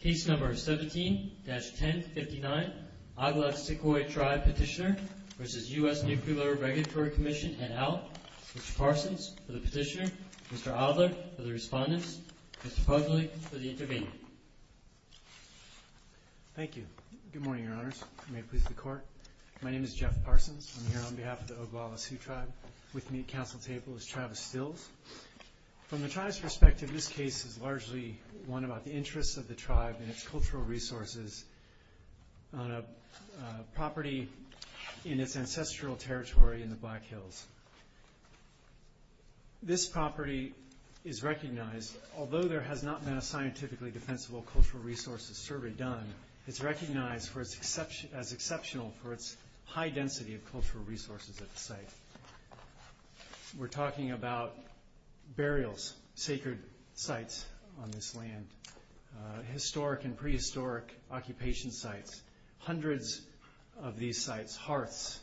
Case No. 17-1059, Oglala Sikhoi Tribe Petitioner v. U.S. Nuclear Regulatory Commission, et al. Mr. Parsons for the petitioner, Mr. Adler for the respondents, Mr. Pugley for the intervener. Thank you. Good morning, Your Honors. May it please the Court. My name is Jeff Parsons. I'm here on behalf of the Oglala Sioux Tribe. With me at council table is Travis Stills. From the tribe's perspective, this case is largely one about the interests of the tribe and its cultural resources on a property in its ancestral territory in the Black Hills. This property is recognized, although there has not been a scientifically defensible cultural resources survey done, it's recognized as exceptional for its high density of cultural resources at the site. We're talking about burials, sacred sites on this land, historic and prehistoric occupation sites, hundreds of these sites, hearths,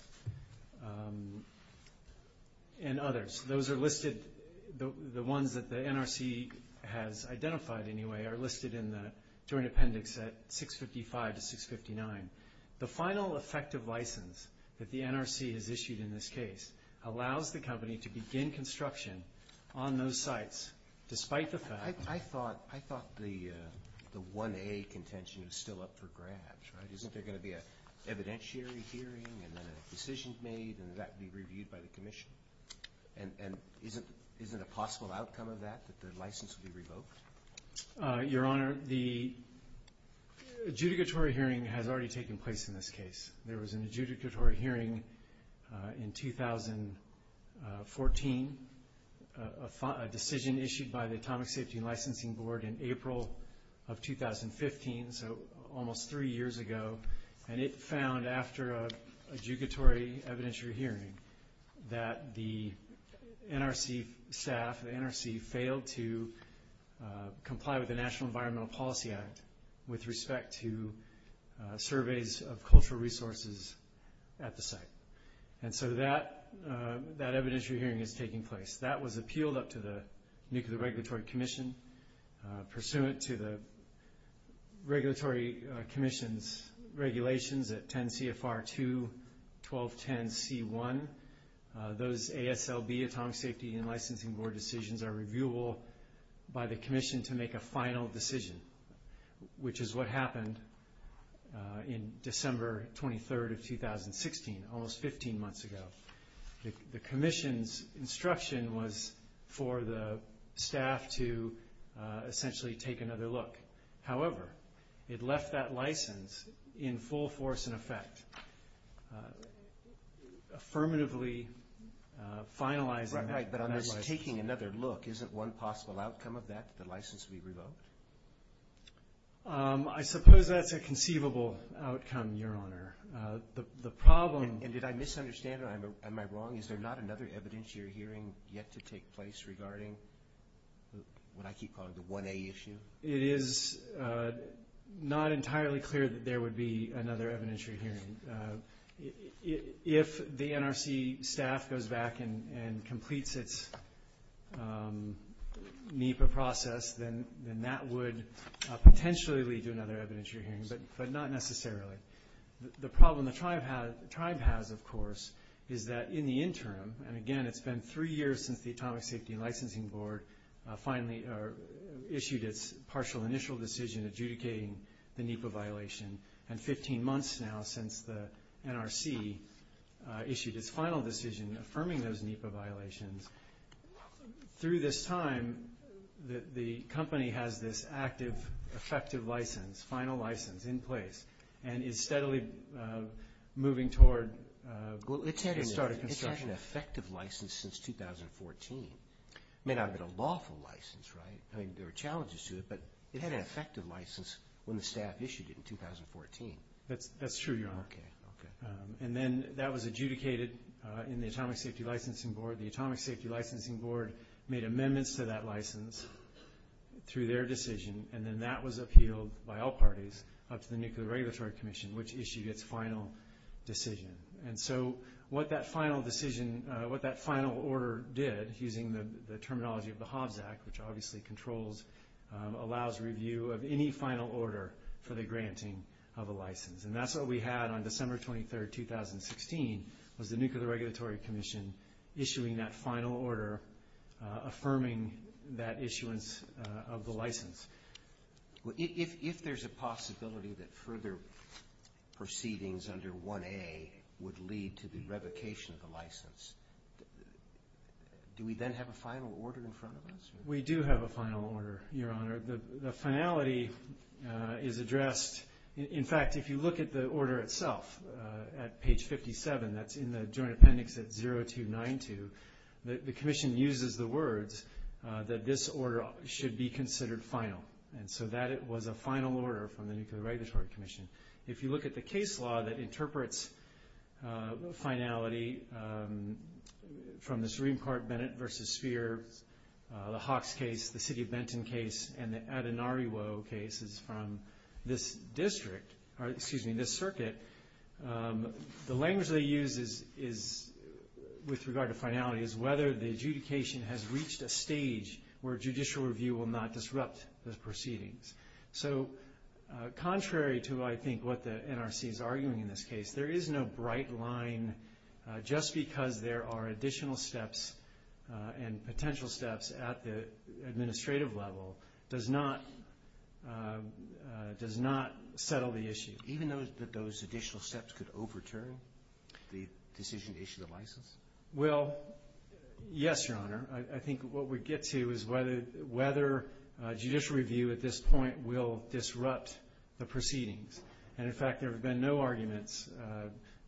and others. Those are listed, the ones that the NRC has identified anyway, are listed in the Joint Appendix at 655 to 659. The final effective license that the NRC has issued in this case allows the company to begin construction on those sites despite the fact I thought the 1A contention is still up for grabs, right? Isn't there going to be an evidentiary hearing and then a decision made and that would be reviewed by the commission? And isn't a possible outcome of that that the license would be revoked? Your Honor, the adjudicatory hearing has already taken place in this case. There was an adjudicatory hearing in 2014, a decision issued by the Atomic Safety and Licensing Board in April of 2015, so almost three years ago, and it found after an adjudicatory evidentiary hearing that the NRC staff, the NRC failed to comply with the National Environmental Policy Act with respect to surveys of cultural resources at the site. And so that evidentiary hearing is taking place. That was appealed up to the Nuclear Regulatory Commission. Pursuant to the regulatory commission's regulations at 10 CFR 2, 1210 C1, those ASLB, Atomic Safety and Licensing Board decisions are reviewable by the commission to make a final decision, which is what happened in December 23rd of 2016, almost 15 months ago. The commission's instruction was for the staff to essentially take another look. However, it left that license in full force in effect, affirmatively finalizing that. Right, but otherwise taking another look, isn't one possible outcome of that that the license would be revoked? I suppose that's a conceivable outcome, Your Honor. And did I misunderstand? Am I wrong? Is there not another evidentiary hearing yet to take place regarding what I keep calling the 1A issue? It is not entirely clear that there would be another evidentiary hearing. If the NRC staff goes back and completes its NEPA process, then that would potentially lead to another evidentiary hearing, but not necessarily. The problem the tribe has, of course, is that in the interim, and again, it's been three years since the Atomic Safety and Licensing Board issued its partial initial decision adjudicating the NEPA violation, and 15 months now since the NRC issued its final decision affirming those NEPA violations. Through this time, the company has this active, effective license, final license in place, and is steadily moving toward getting it started. It's had an effective license since 2014. It may not have been a lawful license, right? I mean, there were challenges to it, but it had an effective license when the staff issued it in 2014. That's true, Your Honor. And then that was adjudicated in the Atomic Safety and Licensing Board. The Atomic Safety and Licensing Board made amendments to that license through their decision, and then that was appealed by all parties up to the Nuclear Regulatory Commission, which issued its final decision. And so what that final decision, what that final order did, using the terminology of the Hobbs Act, which obviously controls, allows review of any final order for the granting of a license. And that's what we had on December 23, 2016, was the Nuclear Regulatory Commission issuing that final order, affirming that issuance of the license. If there's a possibility that further proceedings under 1A would lead to the revocation of the license, do we then have a final order in front of us? We do have a final order, Your Honor. The finality is addressed. In fact, if you look at the order itself at page 57, that's in the Joint Appendix at 0292, the Commission uses the words that this order should be considered final. And so that was a final order from the Nuclear Regulatory Commission. If you look at the case law that interprets finality from the Supreme Court Bennett v. Sphere, the Hawks case, the City of Benton case, and the Adinariwo cases from this district, excuse me, this circuit, the language they use is, with regard to finality, is whether the adjudication has reached a stage where judicial review will not disrupt the proceedings. So contrary to, I think, what the NRC is arguing in this case, there is no bright line just because there are additional steps and potential steps at the administrative level does not settle the issue. Even though those additional steps could overturn the decision to issue the license? Well, yes, Your Honor. I think what we get to is whether judicial review at this point will disrupt the proceedings. And, in fact, there have been no arguments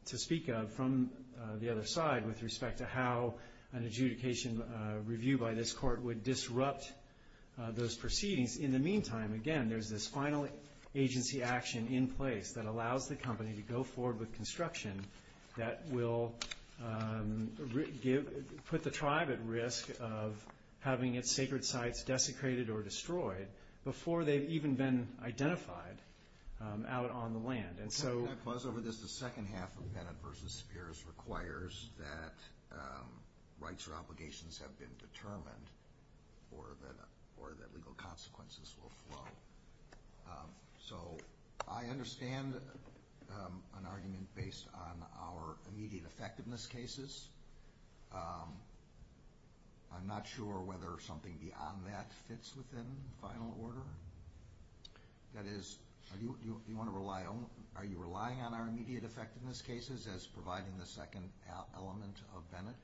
to speak of from the other side with respect to how an adjudication review by this court would disrupt those proceedings. In the meantime, again, there's this final agency action in place that allows the company to go forward with construction that will put the tribe at risk of having its sacred sites desecrated or destroyed before they've even been identified out on the land. Can I pause over this? The second half of Bennett v. Spears requires that rights or obligations have been determined or that legal consequences will flow. So I understand an argument based on our immediate effectiveness cases. I'm not sure whether something beyond that fits within final order. That is, are you relying on our immediate effectiveness cases as providing the second element of Bennett?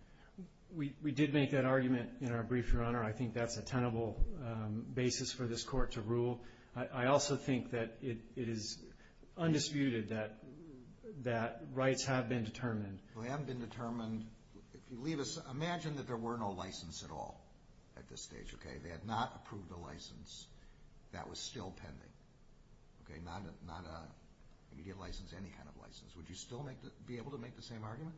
We did make that argument in our brief, Your Honor. I think that's a tenable basis for this court to rule. I also think that it is undisputed that rights have been determined. They haven't been determined. Imagine that there were no license at all at this stage. They had not approved the license. That was still pending, not an immediate license, any kind of license. Would you still be able to make the same argument?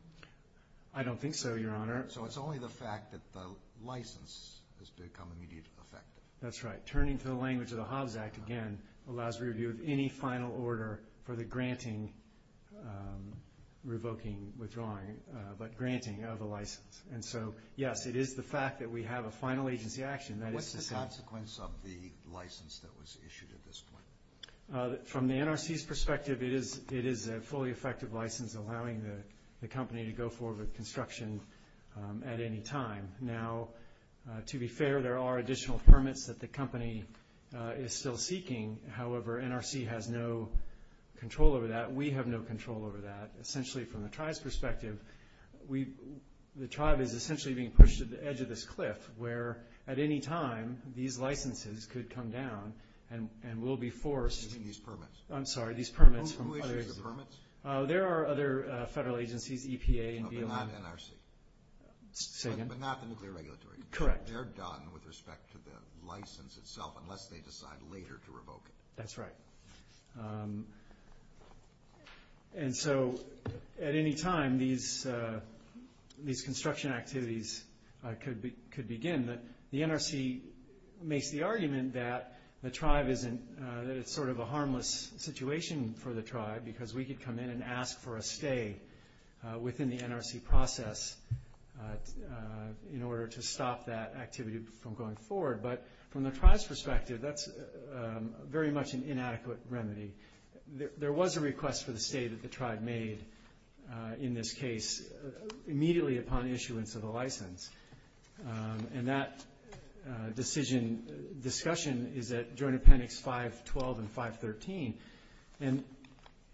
I don't think so, Your Honor. So it's only the fact that the license has become immediate effect. That's right. Turning to the language of the Hobbs Act, again, allows review of any final order for the granting, revoking, withdrawing, but granting of the license. And so, yes, it is the fact that we have a final agency action. What's the consequence of the license that was issued at this point? From the NRC's perspective, it is a fully effective license, allowing the company to go forward with construction at any time. Now, to be fair, there are additional permits that the company is still seeking. However, NRC has no control over that. We have no control over that. Essentially, from the tribe's perspective, the tribe is essentially being pushed to the edge of this cliff, where at any time these licenses could come down and will be forced. You mean these permits? I'm sorry, these permits from other agencies. Who issues the permits? There are other federal agencies, EPA and BLM. But not NRC? Say again? But not the nuclear regulatory? Correct. They're done with respect to the license itself unless they decide later to revoke it? That's right. And so at any time, these construction activities could begin. The NRC makes the argument that the tribe isn't – that it's sort of a harmless situation for the tribe because we could come in and ask for a stay within the NRC process in order to stop that activity from going forward. But from the tribe's perspective, that's very much an inadequate remedy. There was a request for the stay that the tribe made in this case immediately upon issuance of the license. And that decision discussion is at Joint Appendix 512 and 513.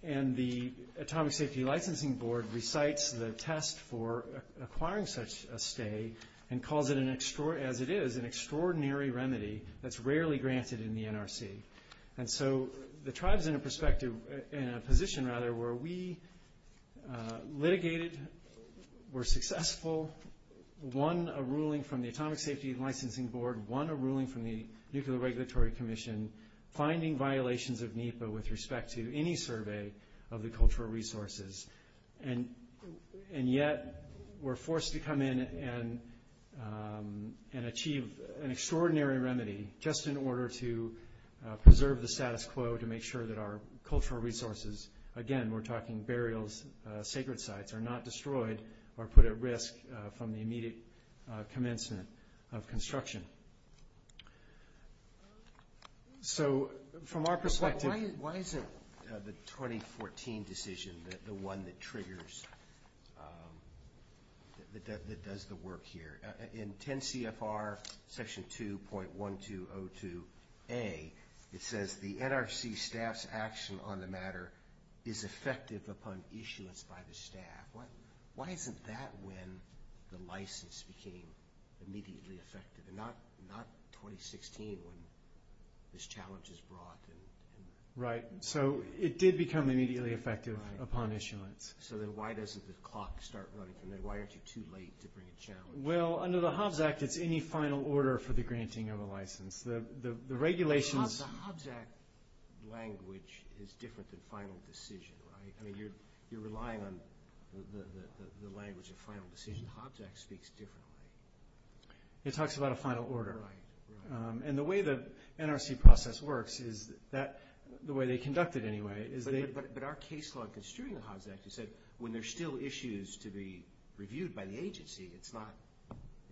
And the Atomic Safety Licensing Board recites the test for acquiring such a stay and calls it, as it is, an extraordinary remedy that's rarely granted in the NRC. And so the tribe is in a position where we litigated, were successful, won a ruling from the Atomic Safety Licensing Board, won a ruling from the Nuclear Regulatory Commission, finding violations of NEPA with respect to any survey of the cultural resources. And yet we're forced to come in and achieve an extraordinary remedy just in order to preserve the status quo to make sure that our cultural resources – again, we're talking burials, sacred sites – are not destroyed or put at risk from the immediate commencement of construction. So from our perspective – Why isn't the 2014 decision the one that triggers – that does the work here? In 10 CFR Section 2.1202A, it says, the NRC staff's action on the matter is effective upon issuance by the staff. Why isn't that when the license became immediately effective and not 2016 when this challenge was brought? Right. So it did become immediately effective upon issuance. So then why doesn't the clock start running? And then why aren't you too late to bring a challenge? Well, under the Hobbs Act, it's any final order for the granting of a license. The regulations – The Hobbs Act language is different than final decision, right? I mean, you're relying on the language of final decision. The Hobbs Act speaks differently. It talks about a final order. Right. And the way the NRC process works is that – the way they conduct it anyway is they – that when there's still issues to be reviewed by the agency, it's not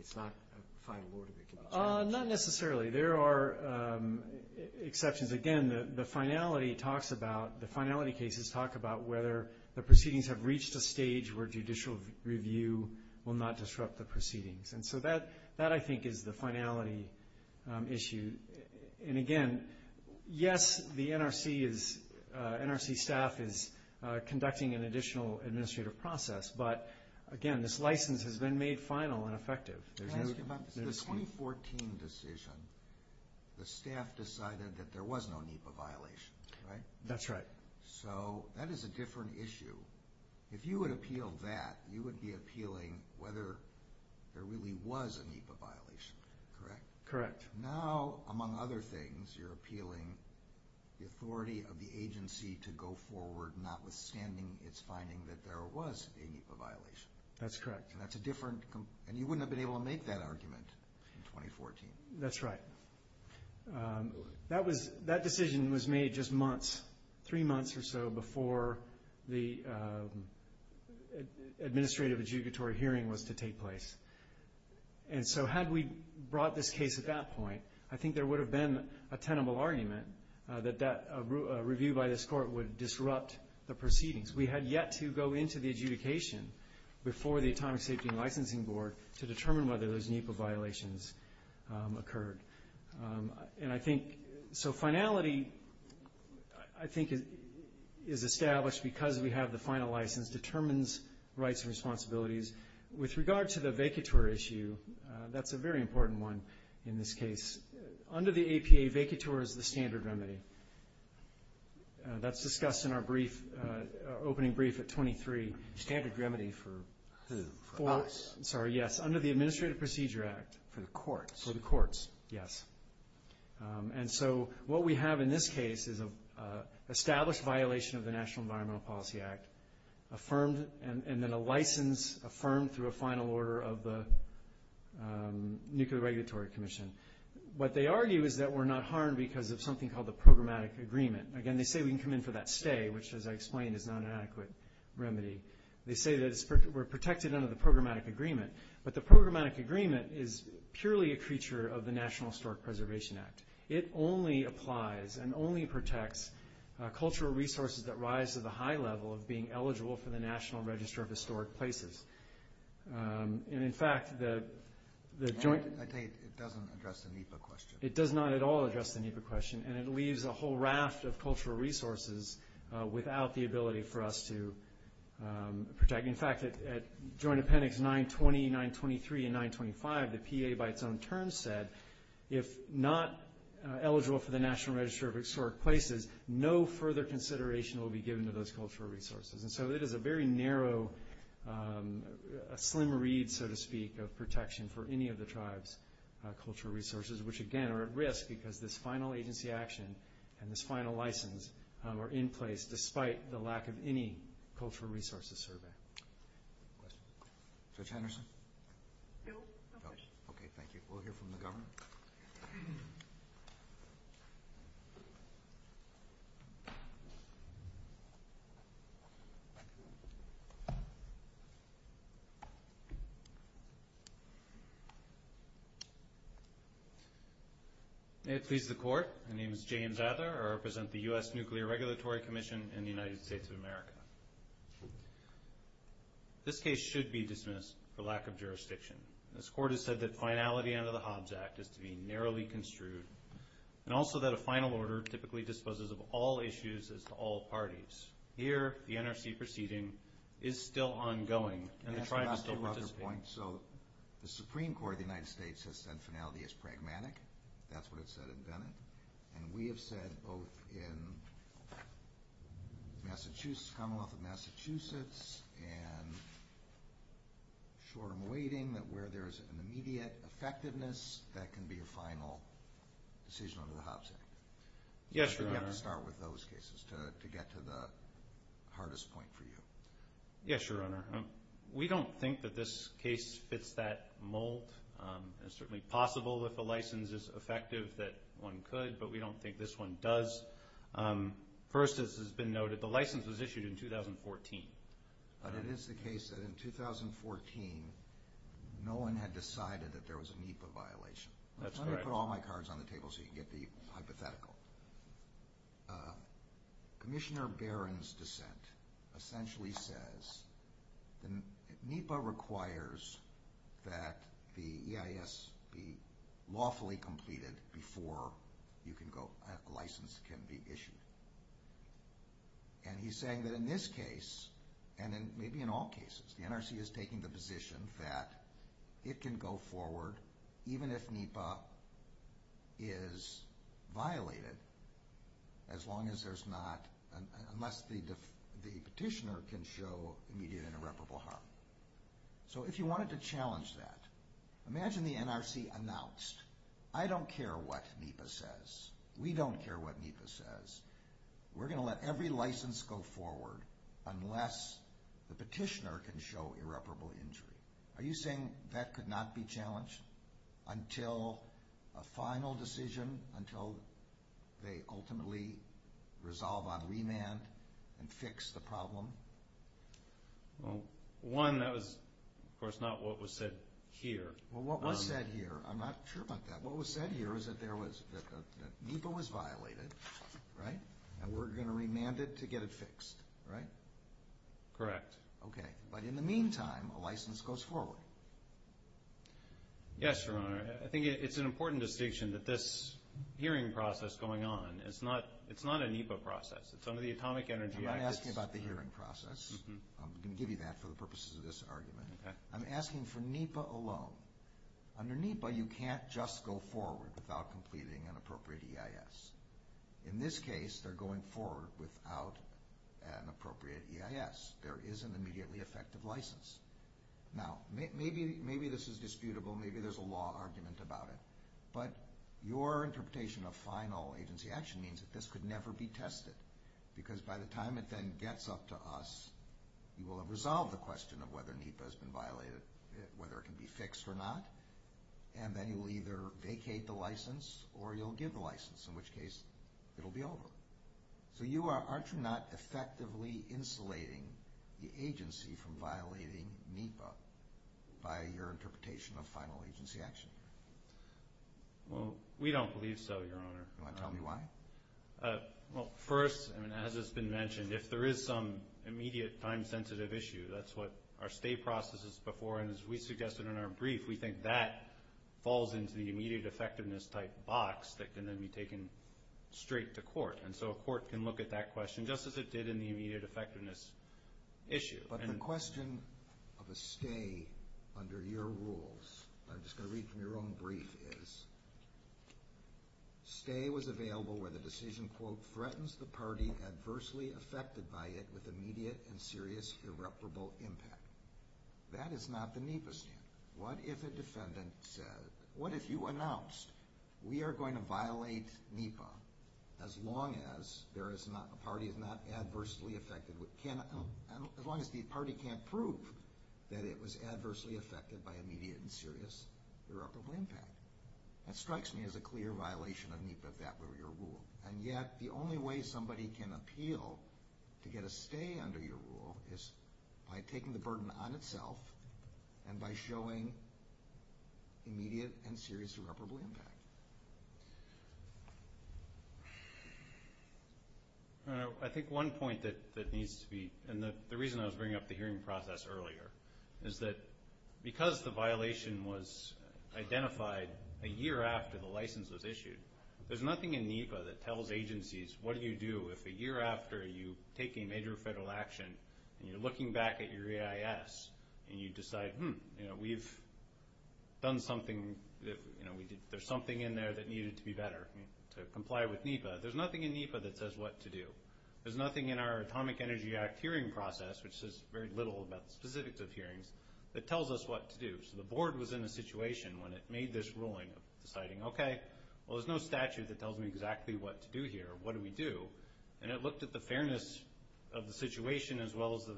a final order that can be changed. Not necessarily. There are exceptions. Again, the finality talks about – the finality cases talk about whether the proceedings have reached a stage where judicial review will not disrupt the proceedings. And so that, I think, is the finality issue. And, again, yes, the NRC is – NRC staff is conducting an additional administrative process, but, again, this license has been made final and effective. Can I ask you about the 2014 decision? The staff decided that there was no NEPA violation, right? That's right. So that is a different issue. If you would appeal that, you would be appealing whether there really was a NEPA violation, correct? Correct. Now, among other things, you're appealing the authority of the agency to go forward, notwithstanding its finding that there was a NEPA violation. That's correct. And that's a different – and you wouldn't have been able to make that argument in 2014. That's right. That was – that decision was made just months, three months or so, before the administrative adjugatory hearing was to take place. And so had we brought this case at that point, I think there would have been a tenable argument that that review by this court would disrupt the proceedings. We had yet to go into the adjudication before the Atomic Safety and Licensing Board to determine whether those NEPA violations occurred. And I think – so finality, I think, is established because we have the final license, determines rights and responsibilities. With regard to the vacatur issue, that's a very important one in this case. Under the APA, vacatur is the standard remedy. That's discussed in our brief – opening brief at 23. Standard remedy for who? For us? Sorry, yes. Under the Administrative Procedure Act. For the courts? For the courts, yes. And so what we have in this case is an established violation of the National Environmental Policy Act, and then a license affirmed through a final order of the Nuclear Regulatory Commission. What they argue is that we're not harmed because of something called the programmatic agreement. Again, they say we can come in for that stay, which, as I explained, is not an adequate remedy. They say that we're protected under the programmatic agreement. But the programmatic agreement is purely a creature of the National Historic Preservation Act. It only applies and only protects cultural resources that rise to the high level of being eligible for the National Register of Historic Places. And, in fact, the joint – I take it it doesn't address the NEPA question. It does not at all address the NEPA question, and it leaves a whole raft of cultural resources without the ability for us to protect. In fact, at Joint Appendix 920, 923, and 925, the PA by its own terms said, if not eligible for the National Register of Historic Places, no further consideration will be given to those cultural resources. And so it is a very narrow, a slim reed, so to speak, of protection for any of the tribe's cultural resources, which, again, are at risk because this final agency action and this final license are in place despite the lack of any cultural resources survey. Questions? Judge Henderson? No, no questions. Okay, thank you. We'll hear from the Governor. May it please the Court, my name is James Ather, I represent the U.S. Nuclear Regulatory Commission in the United States of America. This case should be dismissed for lack of jurisdiction. This Court has said that finality under the Hobbs Act is to be narrowly construed, and also that a final order typically disposes of all issues as to all parties. Here, the NRC proceeding is still ongoing, and the tribe is still participating. So the Supreme Court of the United States has said finality is pragmatic. That's what it said in Bennett. And we have said both in Massachusetts, Commonwealth of Massachusetts, and short of waiting, that where there is an immediate effectiveness, that can be a final decision under the Hobbs Act. Yes, Your Honor. You have to start with those cases to get to the hardest point for you. Yes, Your Honor. We don't think that this case fits that mold. It's certainly possible that the license is effective, that one could, but we don't think this one does. First, as has been noted, the license was issued in 2014. But it is the case that in 2014, no one had decided that there was a NEPA violation. That's correct. Let me put all my cards on the table so you can get the hypothetical. Commissioner Barron's dissent essentially says NEPA requires that the EIS be lawfully completed before a license can be issued. And he's saying that in this case, and maybe in all cases, the NRC is taking the position that it can go forward even if NEPA is violated, unless the petitioner can show immediate and irreparable harm. So if you wanted to challenge that, imagine the NRC announced, I don't care what NEPA says, we don't care what NEPA says, we're going to let every license go forward unless the petitioner can show irreparable injury. Are you saying that could not be challenged until a final decision, until they ultimately resolve on remand and fix the problem? Well, one, that was, of course, not what was said here. Well, what was said here, I'm not sure about that. What was said here is that NEPA was violated, right, and we're going to remand it to get it fixed, right? Correct. Okay. But in the meantime, a license goes forward. Yes, Your Honor. I think it's an important distinction that this hearing process going on, it's not a NEPA process. It's under the Atomic Energy Act. I'm not asking about the hearing process. I'm going to give you that for the purposes of this argument. Okay. I'm asking for NEPA alone. Under NEPA, you can't just go forward without completing an appropriate EIS. In this case, they're going forward without an appropriate EIS. There is an immediately effective license. Now, maybe this is disputable. Maybe there's a law argument about it. But your interpretation of final agency action means that this could never be tested because by the time it then gets up to us, you will have resolved the question of whether NEPA has been violated, whether it can be fixed or not, and then you will either vacate the license or you'll give the license, in which case it will be over. So aren't you not effectively insulating the agency from violating NEPA by your interpretation of final agency action? Well, we don't believe so, Your Honor. Do you want to tell me why? Well, first, as has been mentioned, if there is some immediate time-sensitive issue, that's what our state processes before, and as we suggested in our brief, we think that falls into the immediate effectiveness type box that can then be taken straight to court. And so a court can look at that question just as it did in the immediate effectiveness issue. But the question of a stay under your rules, and I'm just going to read from your own brief, is, stay was available where the decision, quote, threatens the party adversely affected by it with immediate and serious irreparable impact. That is not the NEPA statement. What if a defendant said, what if you announced, we are going to violate NEPA as long as there is not, the party is not adversely affected, as long as the party can't prove that it was adversely affected by immediate and serious irreparable impact. That strikes me as a clear violation of NEPA, that rule. And yet the only way somebody can appeal to get a stay under your rule is by taking the burden on itself and by showing immediate and serious irreparable impact. I think one point that needs to be, and the reason I was bringing up the hearing process earlier, is that because the violation was identified a year after the license was issued, there's nothing in NEPA that tells agencies what do you do if a year after you take a major federal action and you're looking back at your AIS and you decide, hmm, we've done something, there's something in there that needed to be better to comply with NEPA. There's nothing in NEPA that says what to do. There's nothing in our Atomic Energy Act hearing process, which says very little about the specifics of hearings, that tells us what to do. So the board was in a situation when it made this ruling deciding, okay, well there's no statute that tells me exactly what to do here, what do we do? And it looked at the fairness of the situation as well as the...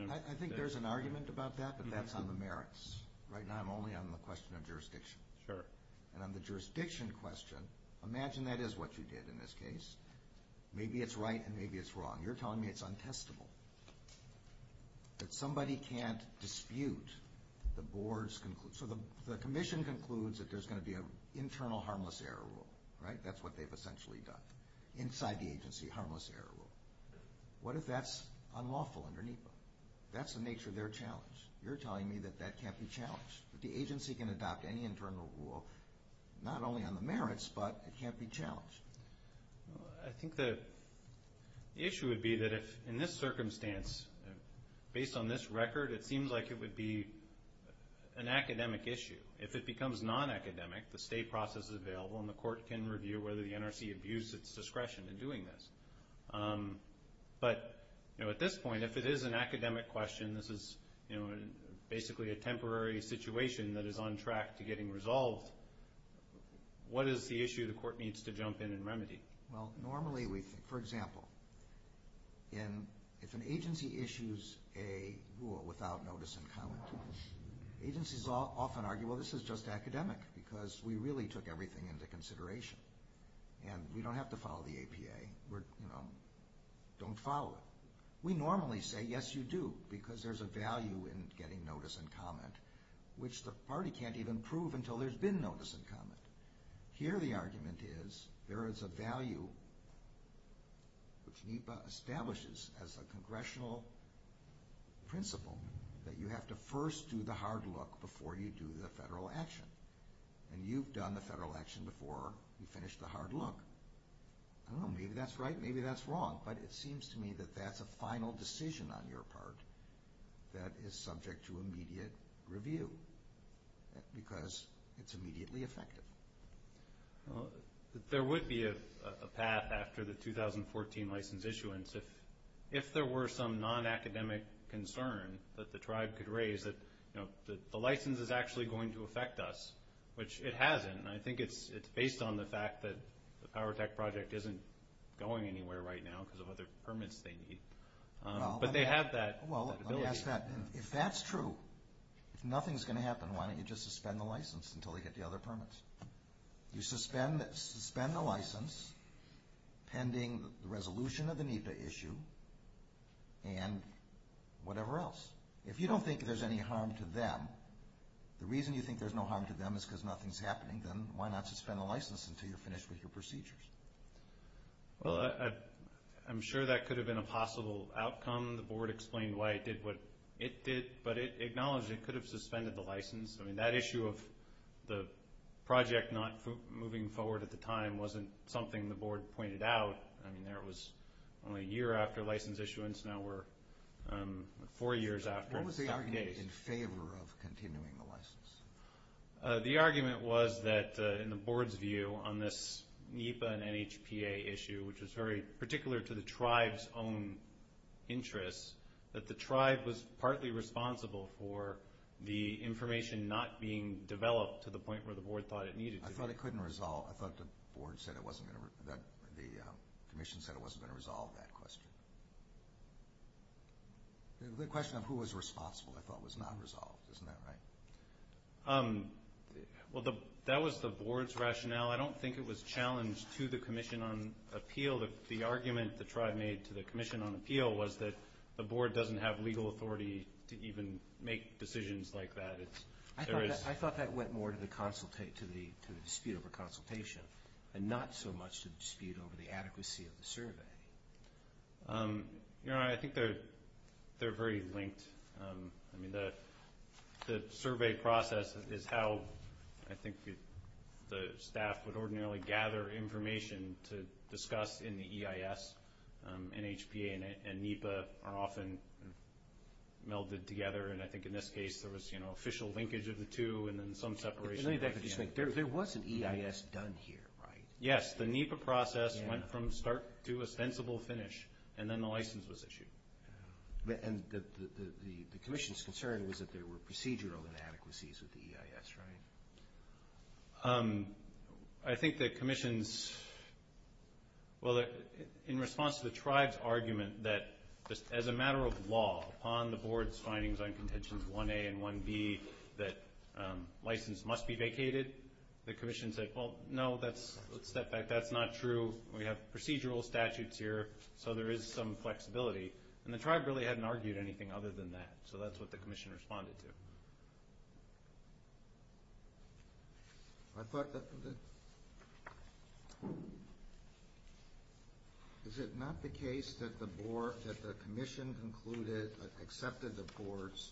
I think there's an argument about that, but that's on the merits. Right now I'm only on the question of jurisdiction. Sure. And on the jurisdiction question, imagine that is what you did in this case. Maybe it's right and maybe it's wrong. You're telling me it's untestable, that somebody can't dispute the board's conclusion. So the commission concludes that there's going to be an internal harmless error rule, right? That's what they've essentially done. Inside the agency, harmless error rule. What if that's unlawful under NEPA? That's the nature of their challenge. You're telling me that that can't be challenged. The agency can adopt any internal rule, not only on the merits, but it can't be challenged. I think the issue would be that in this circumstance, based on this record, it seems like it would be an academic issue. If it becomes non-academic, the state process is available and the court can review whether the NRC abuse its discretion in doing this. But at this point, if it is an academic question, this is basically a temporary situation that is on track to getting resolved, what is the issue the court needs to jump in and remedy? Normally, for example, if an agency issues a rule without notice and comment, agencies often argue, well, this is just academic, because we really took everything into consideration, and we don't have to follow the APA. Don't follow it. We normally say, yes, you do, because there's a value in getting notice and comment, which the party can't even prove until there's been notice and comment. Here the argument is, there is a value which NEPA establishes as a congressional principle that you have to first do the hard look before you do the federal action. And you've done the federal action before you finish the hard look. I don't know, maybe that's right, maybe that's wrong, but it seems to me that that's a final decision on your part that is subject to immediate review, because it's immediately effective. There would be a path after the 2014 license issuance, if there were some non-academic concern that the tribe could raise, that the license is actually going to affect us, which it hasn't, and I think it's based on the fact that the Power Tech project isn't going anywhere right now because of other permits they need. But they have that ability. Well, let me ask that. If that's true, if nothing's going to happen, why don't you just suspend the license until they get the other permits? You suspend the license pending the resolution of the NEPA issue and whatever else. If you don't think there's any harm to them, the reason you think there's no harm to them is because nothing's happening, then why not suspend the license until you're finished with your procedures? Well, I'm sure that could have been a possible outcome. The board explained why it did what it did, but it acknowledged it could have suspended the license. I mean, that issue of the project not moving forward at the time wasn't something the board pointed out. I mean, there was only a year after license issuance. Now we're four years after. What was the argument in favor of continuing the license? The argument was that in the board's view on this NEPA and NHPA issue, which was very particular to the tribe's own interests, that the tribe was partly responsible for the information not being developed to the point where the board thought it needed to be. I thought it couldn't resolve. I thought the commission said it wasn't going to resolve that question. The question of who was responsible, I thought, was not resolved. Isn't that right? Well, that was the board's rationale. I don't think it was challenged to the commission on appeal. The argument the tribe made to the commission on appeal was that the board doesn't have legal authority to even make decisions like that. I thought that went more to the dispute over consultation and not so much to dispute over the adequacy of the survey. I think they're very linked. The survey process is how I think the staff would ordinarily gather information to discuss in the EIS. NHPA and NEPA are often melded together. I think in this case there was official linkage of the two and then some separation. There was an EIS done here, right? Yes. The NEPA process went from start to a sensible finish, and then the license was issued. The commission's concern was that there were procedural inadequacies with the EIS, right? I think the commission's, well, in response to the tribe's argument that as a matter of law, upon the board's findings on contentions 1A and 1B that license must be vacated, the commission said, well, no, let's step back. That's not true. We have procedural statutes here, so there is some flexibility. The tribe really hadn't argued anything other than that, so that's what the commission responded to. Is it not the case that the commission accepted the board's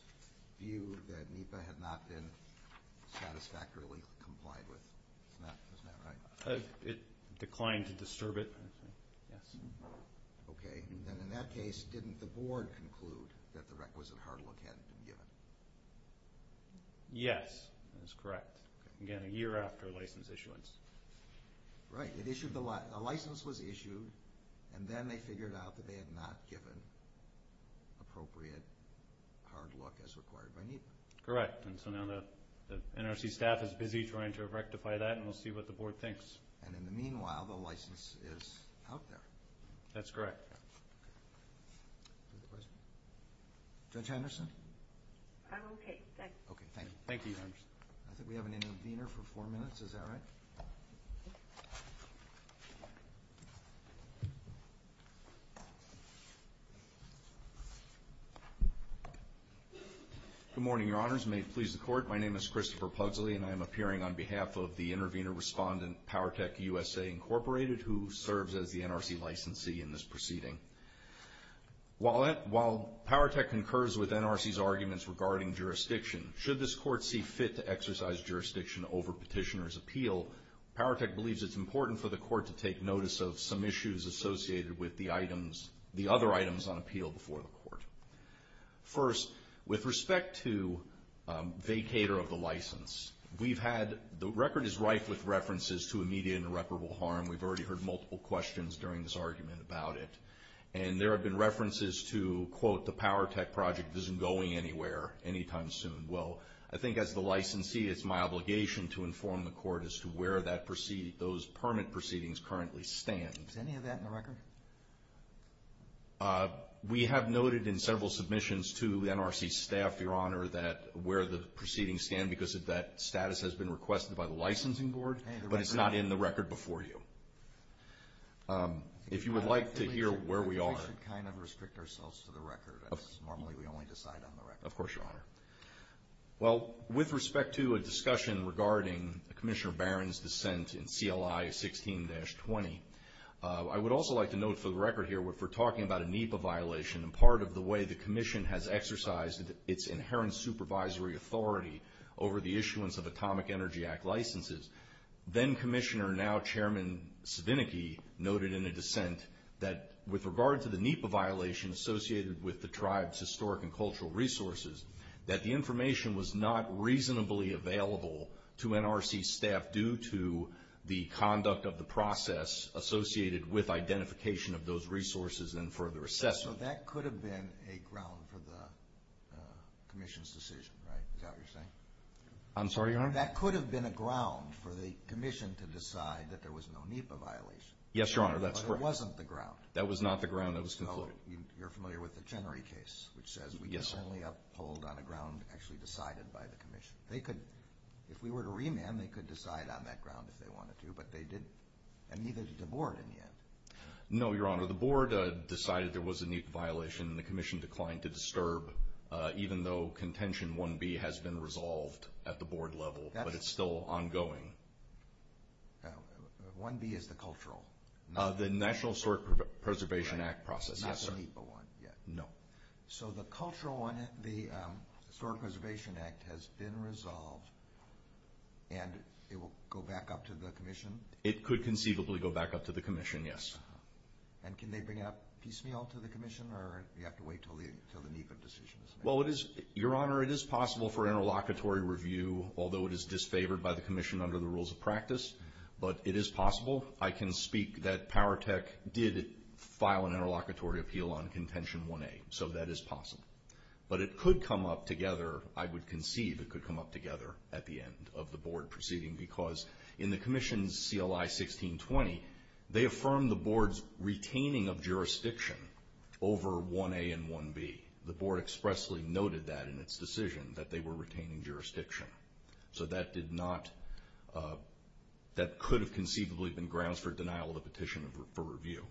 view that NEPA had not been satisfactorily complied with? Isn't that right? It declined to disturb it, yes. Okay. Then in that case, didn't the board conclude that the requisite hard look hadn't been given? Yes, that is correct. Again, a year after license issuance. Right. The license was issued, and then they figured out that they had not given appropriate hard look as required by NEPA. Correct, and so now the NRC staff is busy trying to rectify that, and we'll see what the board thinks. And in the meanwhile, the license is out there. That's correct. Judge Henderson? I'm okay. Okay, thank you. Thank you, Judge. I think we have an intervener for four minutes. Is that right? Good morning, Your Honors. May it please the Court. My name is Christopher Pugsley, and I am appearing on behalf of the intervener respondent, Powertech USA, Incorporated, who serves as the NRC licensee in this proceeding. While Powertech concurs with NRC's arguments regarding jurisdiction, should this court see fit to exercise jurisdiction over petitioner's appeal, Powertech believes it's important for the court to take notice of some issues associated with the items, the other items on appeal before the court. First, with respect to vacator of the license, we've had the record is rife with references to immediate and irreparable harm. We've already heard multiple questions during this argument about it, and there have been references to, quote, the Powertech project isn't going anywhere anytime soon. Well, I think as the licensee, it's my obligation to inform the court as to where those permit proceedings currently stand. Does any of that in the record? We have noted in several submissions to the NRC staff, Your Honor, that where the proceedings stand because that status has been requested by the licensing board, but it's not in the record before you. If you would like to hear where we are. We should kind of restrict ourselves to the record. Normally, we only decide on the record. Of course, Your Honor. Well, with respect to a discussion regarding Commissioner Barron's dissent in CLI 16-20, I would also like to note for the record here, we're talking about a NEPA violation, and part of the way the commission has exercised its inherent supervisory authority over the issuance of Atomic Energy Act licenses, then-Commissioner, now-Chairman Svinicki noted in a dissent that with regard to the NEPA violation associated with the tribe's historic and cultural resources, that the information was not reasonably available to NRC staff due to the conduct of the process associated with identification of those resources and further assessment. So that could have been a ground for the commission's decision, right? Is that what you're saying? I'm sorry, Your Honor? That could have been a ground for the commission to decide that there was no NEPA violation. Yes, Your Honor, that's correct. But it wasn't the ground. That was not the ground. That was concluded. So you're familiar with the Chenery case, which says we can only uphold on a ground actually decided by the commission. If we were to remand, they could decide on that ground if they wanted to, but they didn't, and neither did the board in the end. No, Your Honor. The board decided there was a NEPA violation, and the commission declined to disturb, even though contention 1B has been resolved at the board level, but it's still ongoing. 1B is the cultural. The National Historic Preservation Act process, yes, sir. Not the NEPA one yet. No. So the cultural one, the Historic Preservation Act, has been resolved, and it will go back up to the commission? It could conceivably go back up to the commission, yes. And can they bring it up piecemeal to the commission, or do you have to wait until the NEPA decision is made? Well, Your Honor, it is possible for interlocutory review, although it is disfavored by the commission under the rules of practice, but it is possible. I can speak that Powertec did file an interlocutory appeal on contention 1A, so that is possible. But it could come up together. I would conceive it could come up together at the end of the board proceeding, because in the commission's CLI 1620, they affirmed the board's retaining of jurisdiction over 1A and 1B. The board expressly noted that in its decision, that they were retaining jurisdiction. So that could have conceivably been grounds for denial of the petition for review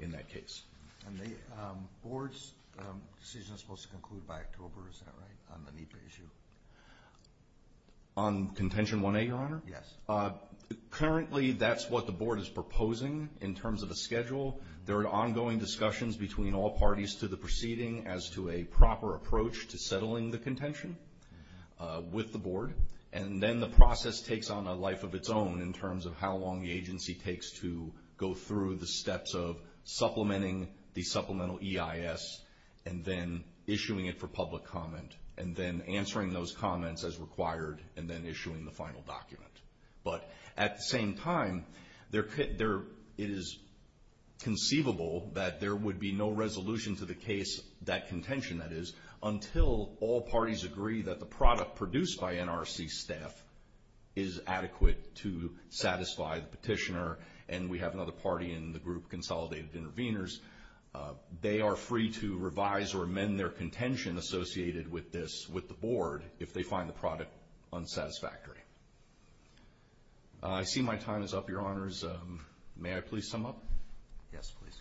in that case. And the board's decision is supposed to conclude by October, is that right, on the NEPA issue? On contention 1A, Your Honor? Yes. Currently, that's what the board is proposing in terms of a schedule. There are ongoing discussions between all parties to the proceeding as to a proper approach to settling the contention. With the board. And then the process takes on a life of its own in terms of how long the agency takes to go through the steps of supplementing the supplemental EIS, and then issuing it for public comment, and then answering those comments as required, and then issuing the final document. But at the same time, it is conceivable that there would be no resolution to the case, that contention, that is, until all parties agree that the product produced by NRC staff is adequate to satisfy the petitioner, and we have another party in the group, Consolidated Intervenors, they are free to revise or amend their contention associated with this, with the board, if they find the product unsatisfactory. I see my time is up, Your Honors. May I please sum up? Yes, please.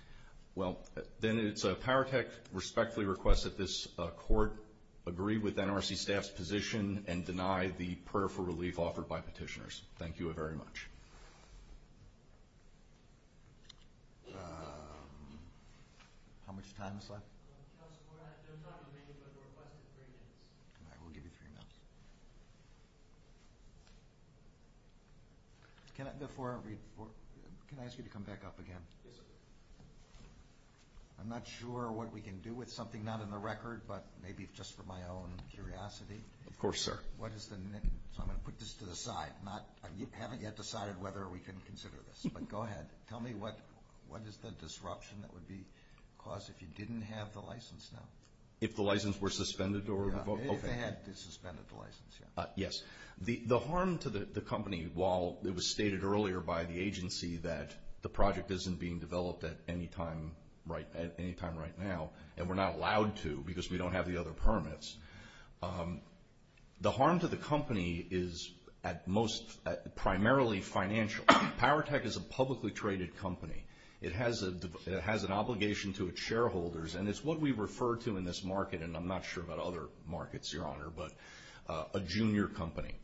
Well, then it's a Powertech respectfully request that this court agree with NRC staff's position and deny the prayer for relief offered by petitioners. Thank you very much. How much time is left? Just for that, there's not a minute, but the request is three minutes. All right, we'll give you three minutes. Before I read, can I ask you to come back up again? I'm not sure what we can do with something not in the record, but maybe just for my own curiosity. Of course, sir. So I'm going to put this to the side. I haven't yet decided whether we can consider this, but go ahead. Tell me what is the disruption that would be caused if you didn't have the license now? If the license were suspended or revoked? If they had suspended the license, yes. The harm to the company, while it was stated earlier by the agency that the project isn't being developed at any time right now, and we're not allowed to because we don't have the other permits, the harm to the company is primarily financial. Powertech is a publicly traded company. It has an obligation to its shareholders, and it's what we refer to in this market, and I'm not sure about other markets, Your Honor, but a junior company.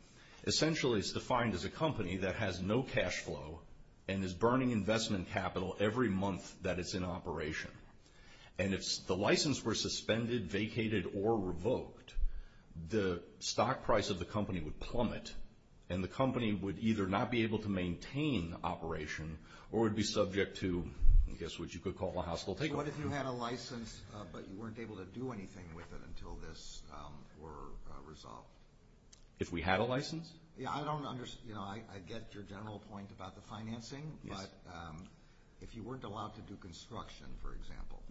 Essentially, it's defined as a company that has no cash flow and is burning investment capital every month that it's in operation. And if the license were suspended, vacated, or revoked, the stock price of the company would plummet, and the company would either not be able to maintain operation or would be subject to, I guess, what you could call a hostile takeover. And what if you had a license, but you weren't able to do anything with it until this were resolved? If we had a license? Yeah, I don't understand. I get your general point about the financing, but if you weren't allowed to do construction, for example,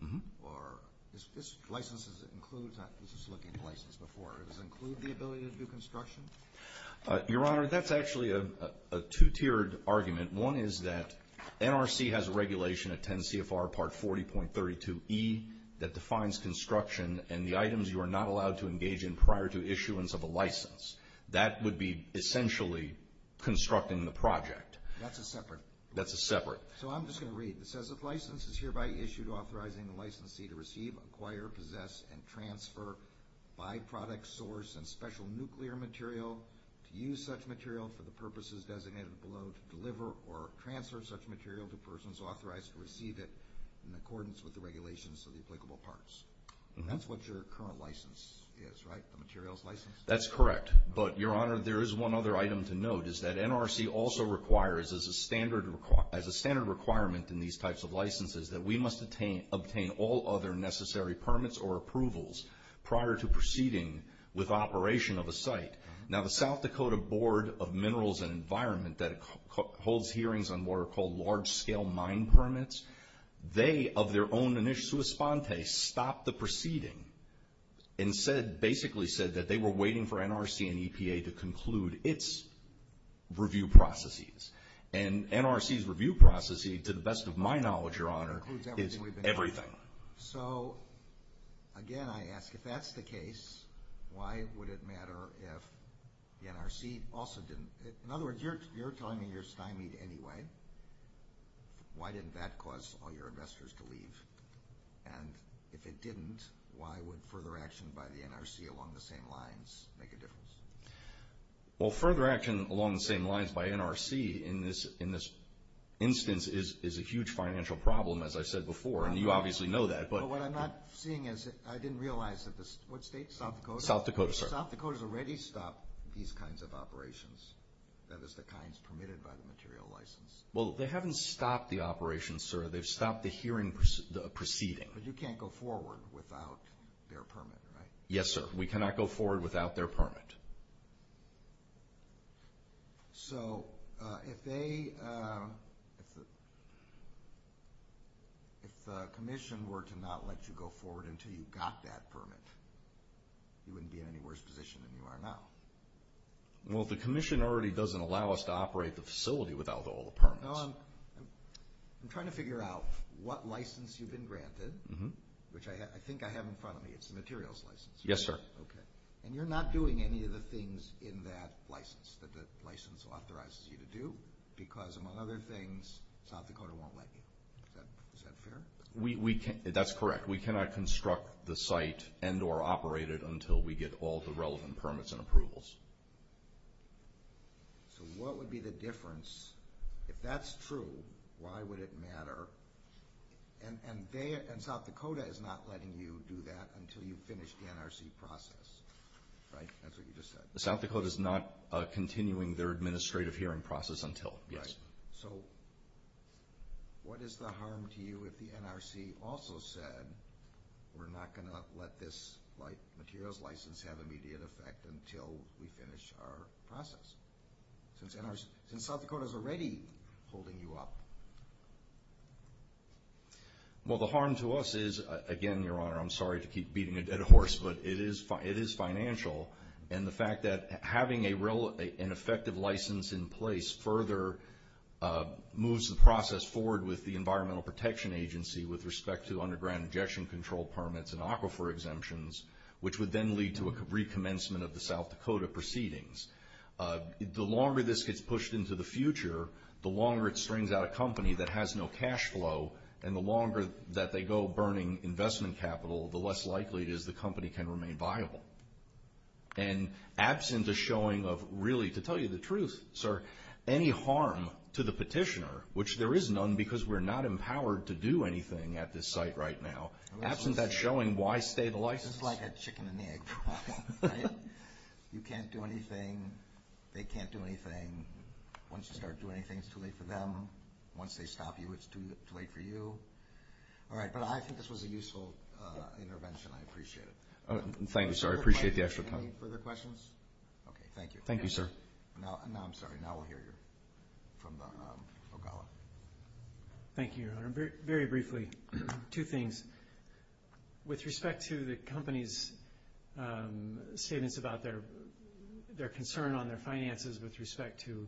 does this license include the ability to do construction? Your Honor, that's actually a two-tiered argument. One is that NRC has a regulation at 10 CFR Part 40.32E that defines construction and the items you are not allowed to engage in prior to issuance of a license. That would be essentially constructing the project. That's a separate. That's a separate. So I'm just going to read. It says if license is hereby issued authorizing the licensee to receive, acquire, possess, and transfer by-product, source, and special nuclear material, to use such material for the purposes designated below to deliver or transfer such material to persons authorized to receive it in accordance with the regulations of the applicable parts. And that's what your current license is, right, the materials license? That's correct. But, Your Honor, there is one other item to note, is that NRC also requires as a standard requirement in these types of licenses that we must obtain all other necessary permits or approvals prior to proceeding with operation of a site. Now, the South Dakota Board of Minerals and Environment that holds hearings on what are called large-scale mine permits, they, of their own initio sua sponte, stopped the proceeding and basically said that they were waiting for NRC and EPA to conclude its review processes. And NRC's review process, to the best of my knowledge, Your Honor, is everything. So, again, I ask, if that's the case, why would it matter if the NRC also didn't? In other words, you're telling me you're stymied anyway. Why didn't that cause all your investors to leave? And if it didn't, why would further action by the NRC along the same lines make a difference? Well, further action along the same lines by NRC in this instance is a huge financial problem, as I said before. And you obviously know that. But what I'm not seeing is I didn't realize that the state, what state, South Dakota? South Dakota, sir. South Dakota's already stopped these kinds of operations, that is, the kinds permitted by the material license. Well, they haven't stopped the operations, sir. They've stopped the hearing proceeding. But you can't go forward without their permit, right? Yes, sir. We cannot go forward without their permit. So if they, if the commission were to not let you go forward until you got that permit, you wouldn't be in any worse position than you are now. Well, the commission already doesn't allow us to operate the facility without all the permits. No, I'm trying to figure out what license you've been granted, which I think I have in front of me. It's the materials license, right? Yes, sir. Okay. And you're not doing any of the things in that license that the license authorizes you to do because, among other things, South Dakota won't let you. Is that fair? That's correct. We cannot construct the site and or operate it until we get all the relevant permits and approvals. So what would be the difference? If that's true, why would it matter? And South Dakota is not letting you do that until you finish the NRC process, right? That's what you just said. South Dakota is not continuing their administrative hearing process until, yes. Right. So what is the harm to you if the NRC also said, we're not going to let this materials license have immediate effect until we finish our process? Since South Dakota is already holding you up. Well, the harm to us is, again, Your Honor, I'm sorry to keep beating a dead horse, but it is financial, and the fact that having an effective license in place further moves the process forward with the Environmental Protection Agency with respect to underground injection control permits and aquifer exemptions, which would then lead to a recommencement of the South Dakota proceedings. The longer this gets pushed into the future, the longer it strains out a company that has no cash flow, and the longer that they go burning investment capital, the less likely it is the company can remain viable. And absent a showing of really, to tell you the truth, sir, any harm to the petitioner, which there is none because we're not empowered to do anything at this site right now, absent that showing, why stay the license? This is like a chicken and egg problem, right? You can't do anything, they can't do anything. Once you start doing anything, it's too late for them. Once they stop you, it's too late for you. All right, but I think this was a useful intervention. I appreciate it. Thank you, sir. I appreciate the extra time. Any further questions? Okay, thank you. Thank you, sir. Now I'm sorry, now we'll hear you from O'Connell. Thank you, Your Honor. Very briefly, two things. With respect to the company's statements about their concern on their finances with respect to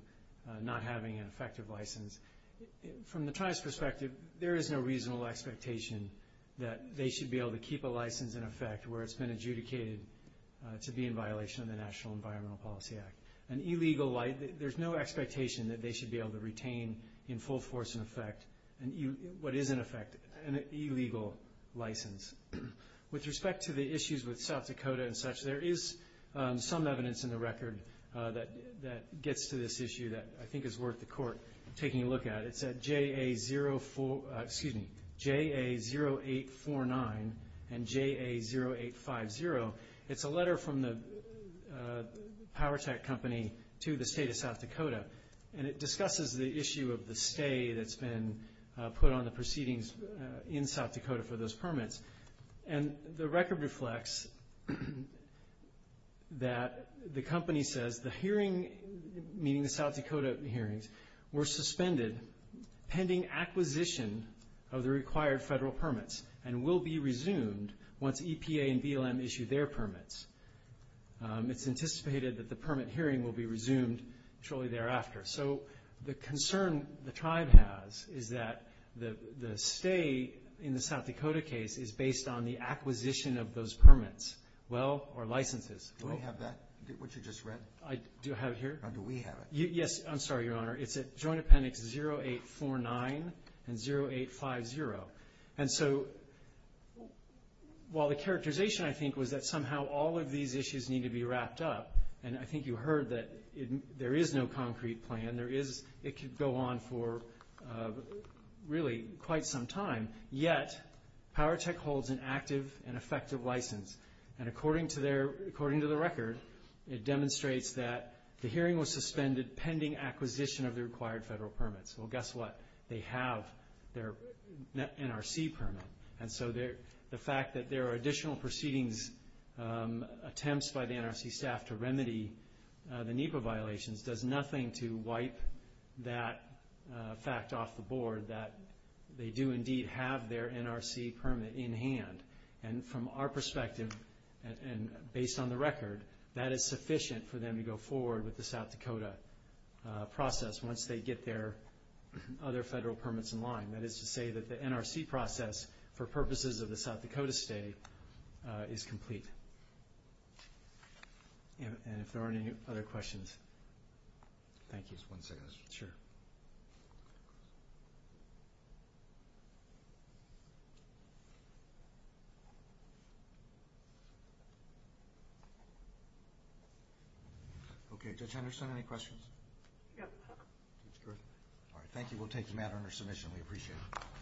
not having an effective license, from the tribe's perspective, there is no reasonable expectation that they should be able to keep a license in effect where it's been adjudicated to be in violation of the National Environmental Policy Act. An illegal license, there's no expectation that they should be able to retain in full force and effect what is in effect an illegal license. With respect to the issues with South Dakota and such, there is some evidence in the record that gets to this issue that I think is worth the Court taking a look at. It's at JA0849 and JA0850. It's a letter from the power tech company to the state of South Dakota, and it discusses the issue of the stay that's been put on the proceedings in South Dakota for those permits. And the record reflects that the company says the hearing, meaning the South Dakota hearings, were suspended pending acquisition of the required federal permits and will be resumed once EPA and BLM issue their permits. It's anticipated that the permit hearing will be resumed shortly thereafter. So the concern the tribe has is that the stay in the South Dakota case is based on the acquisition of those permits, well, or licenses. Do we have that, what you just read? Do I have it here? Do we have it? Yes, I'm sorry, Your Honor. It's at Joint Appendix 0849 and 0850. And so while the characterization, I think, was that somehow all of these issues need to be wrapped up, and I think you heard that there is no concrete plan, it could go on for really quite some time, yet Power Tech holds an active and effective license. And according to the record, it demonstrates that the hearing was suspended pending acquisition of the required federal permits. Well, guess what? They have their NRC permit. And so the fact that there are additional proceedings, attempts by the NRC staff to remedy the NEPA violations, does nothing to wipe that fact off the board, that they do indeed have their NRC permit in hand. And from our perspective, and based on the record, that is sufficient for them to go forward with the South Dakota process once they get their other federal permits in line. That is to say that the NRC process, for purposes of the South Dakota stay, is complete. And if there are any other questions. Thank you. Just one second. Sure. Okay, Judge Henderson, any questions? No. That's good. All right, thank you. We'll take the matter under submission. We appreciate it.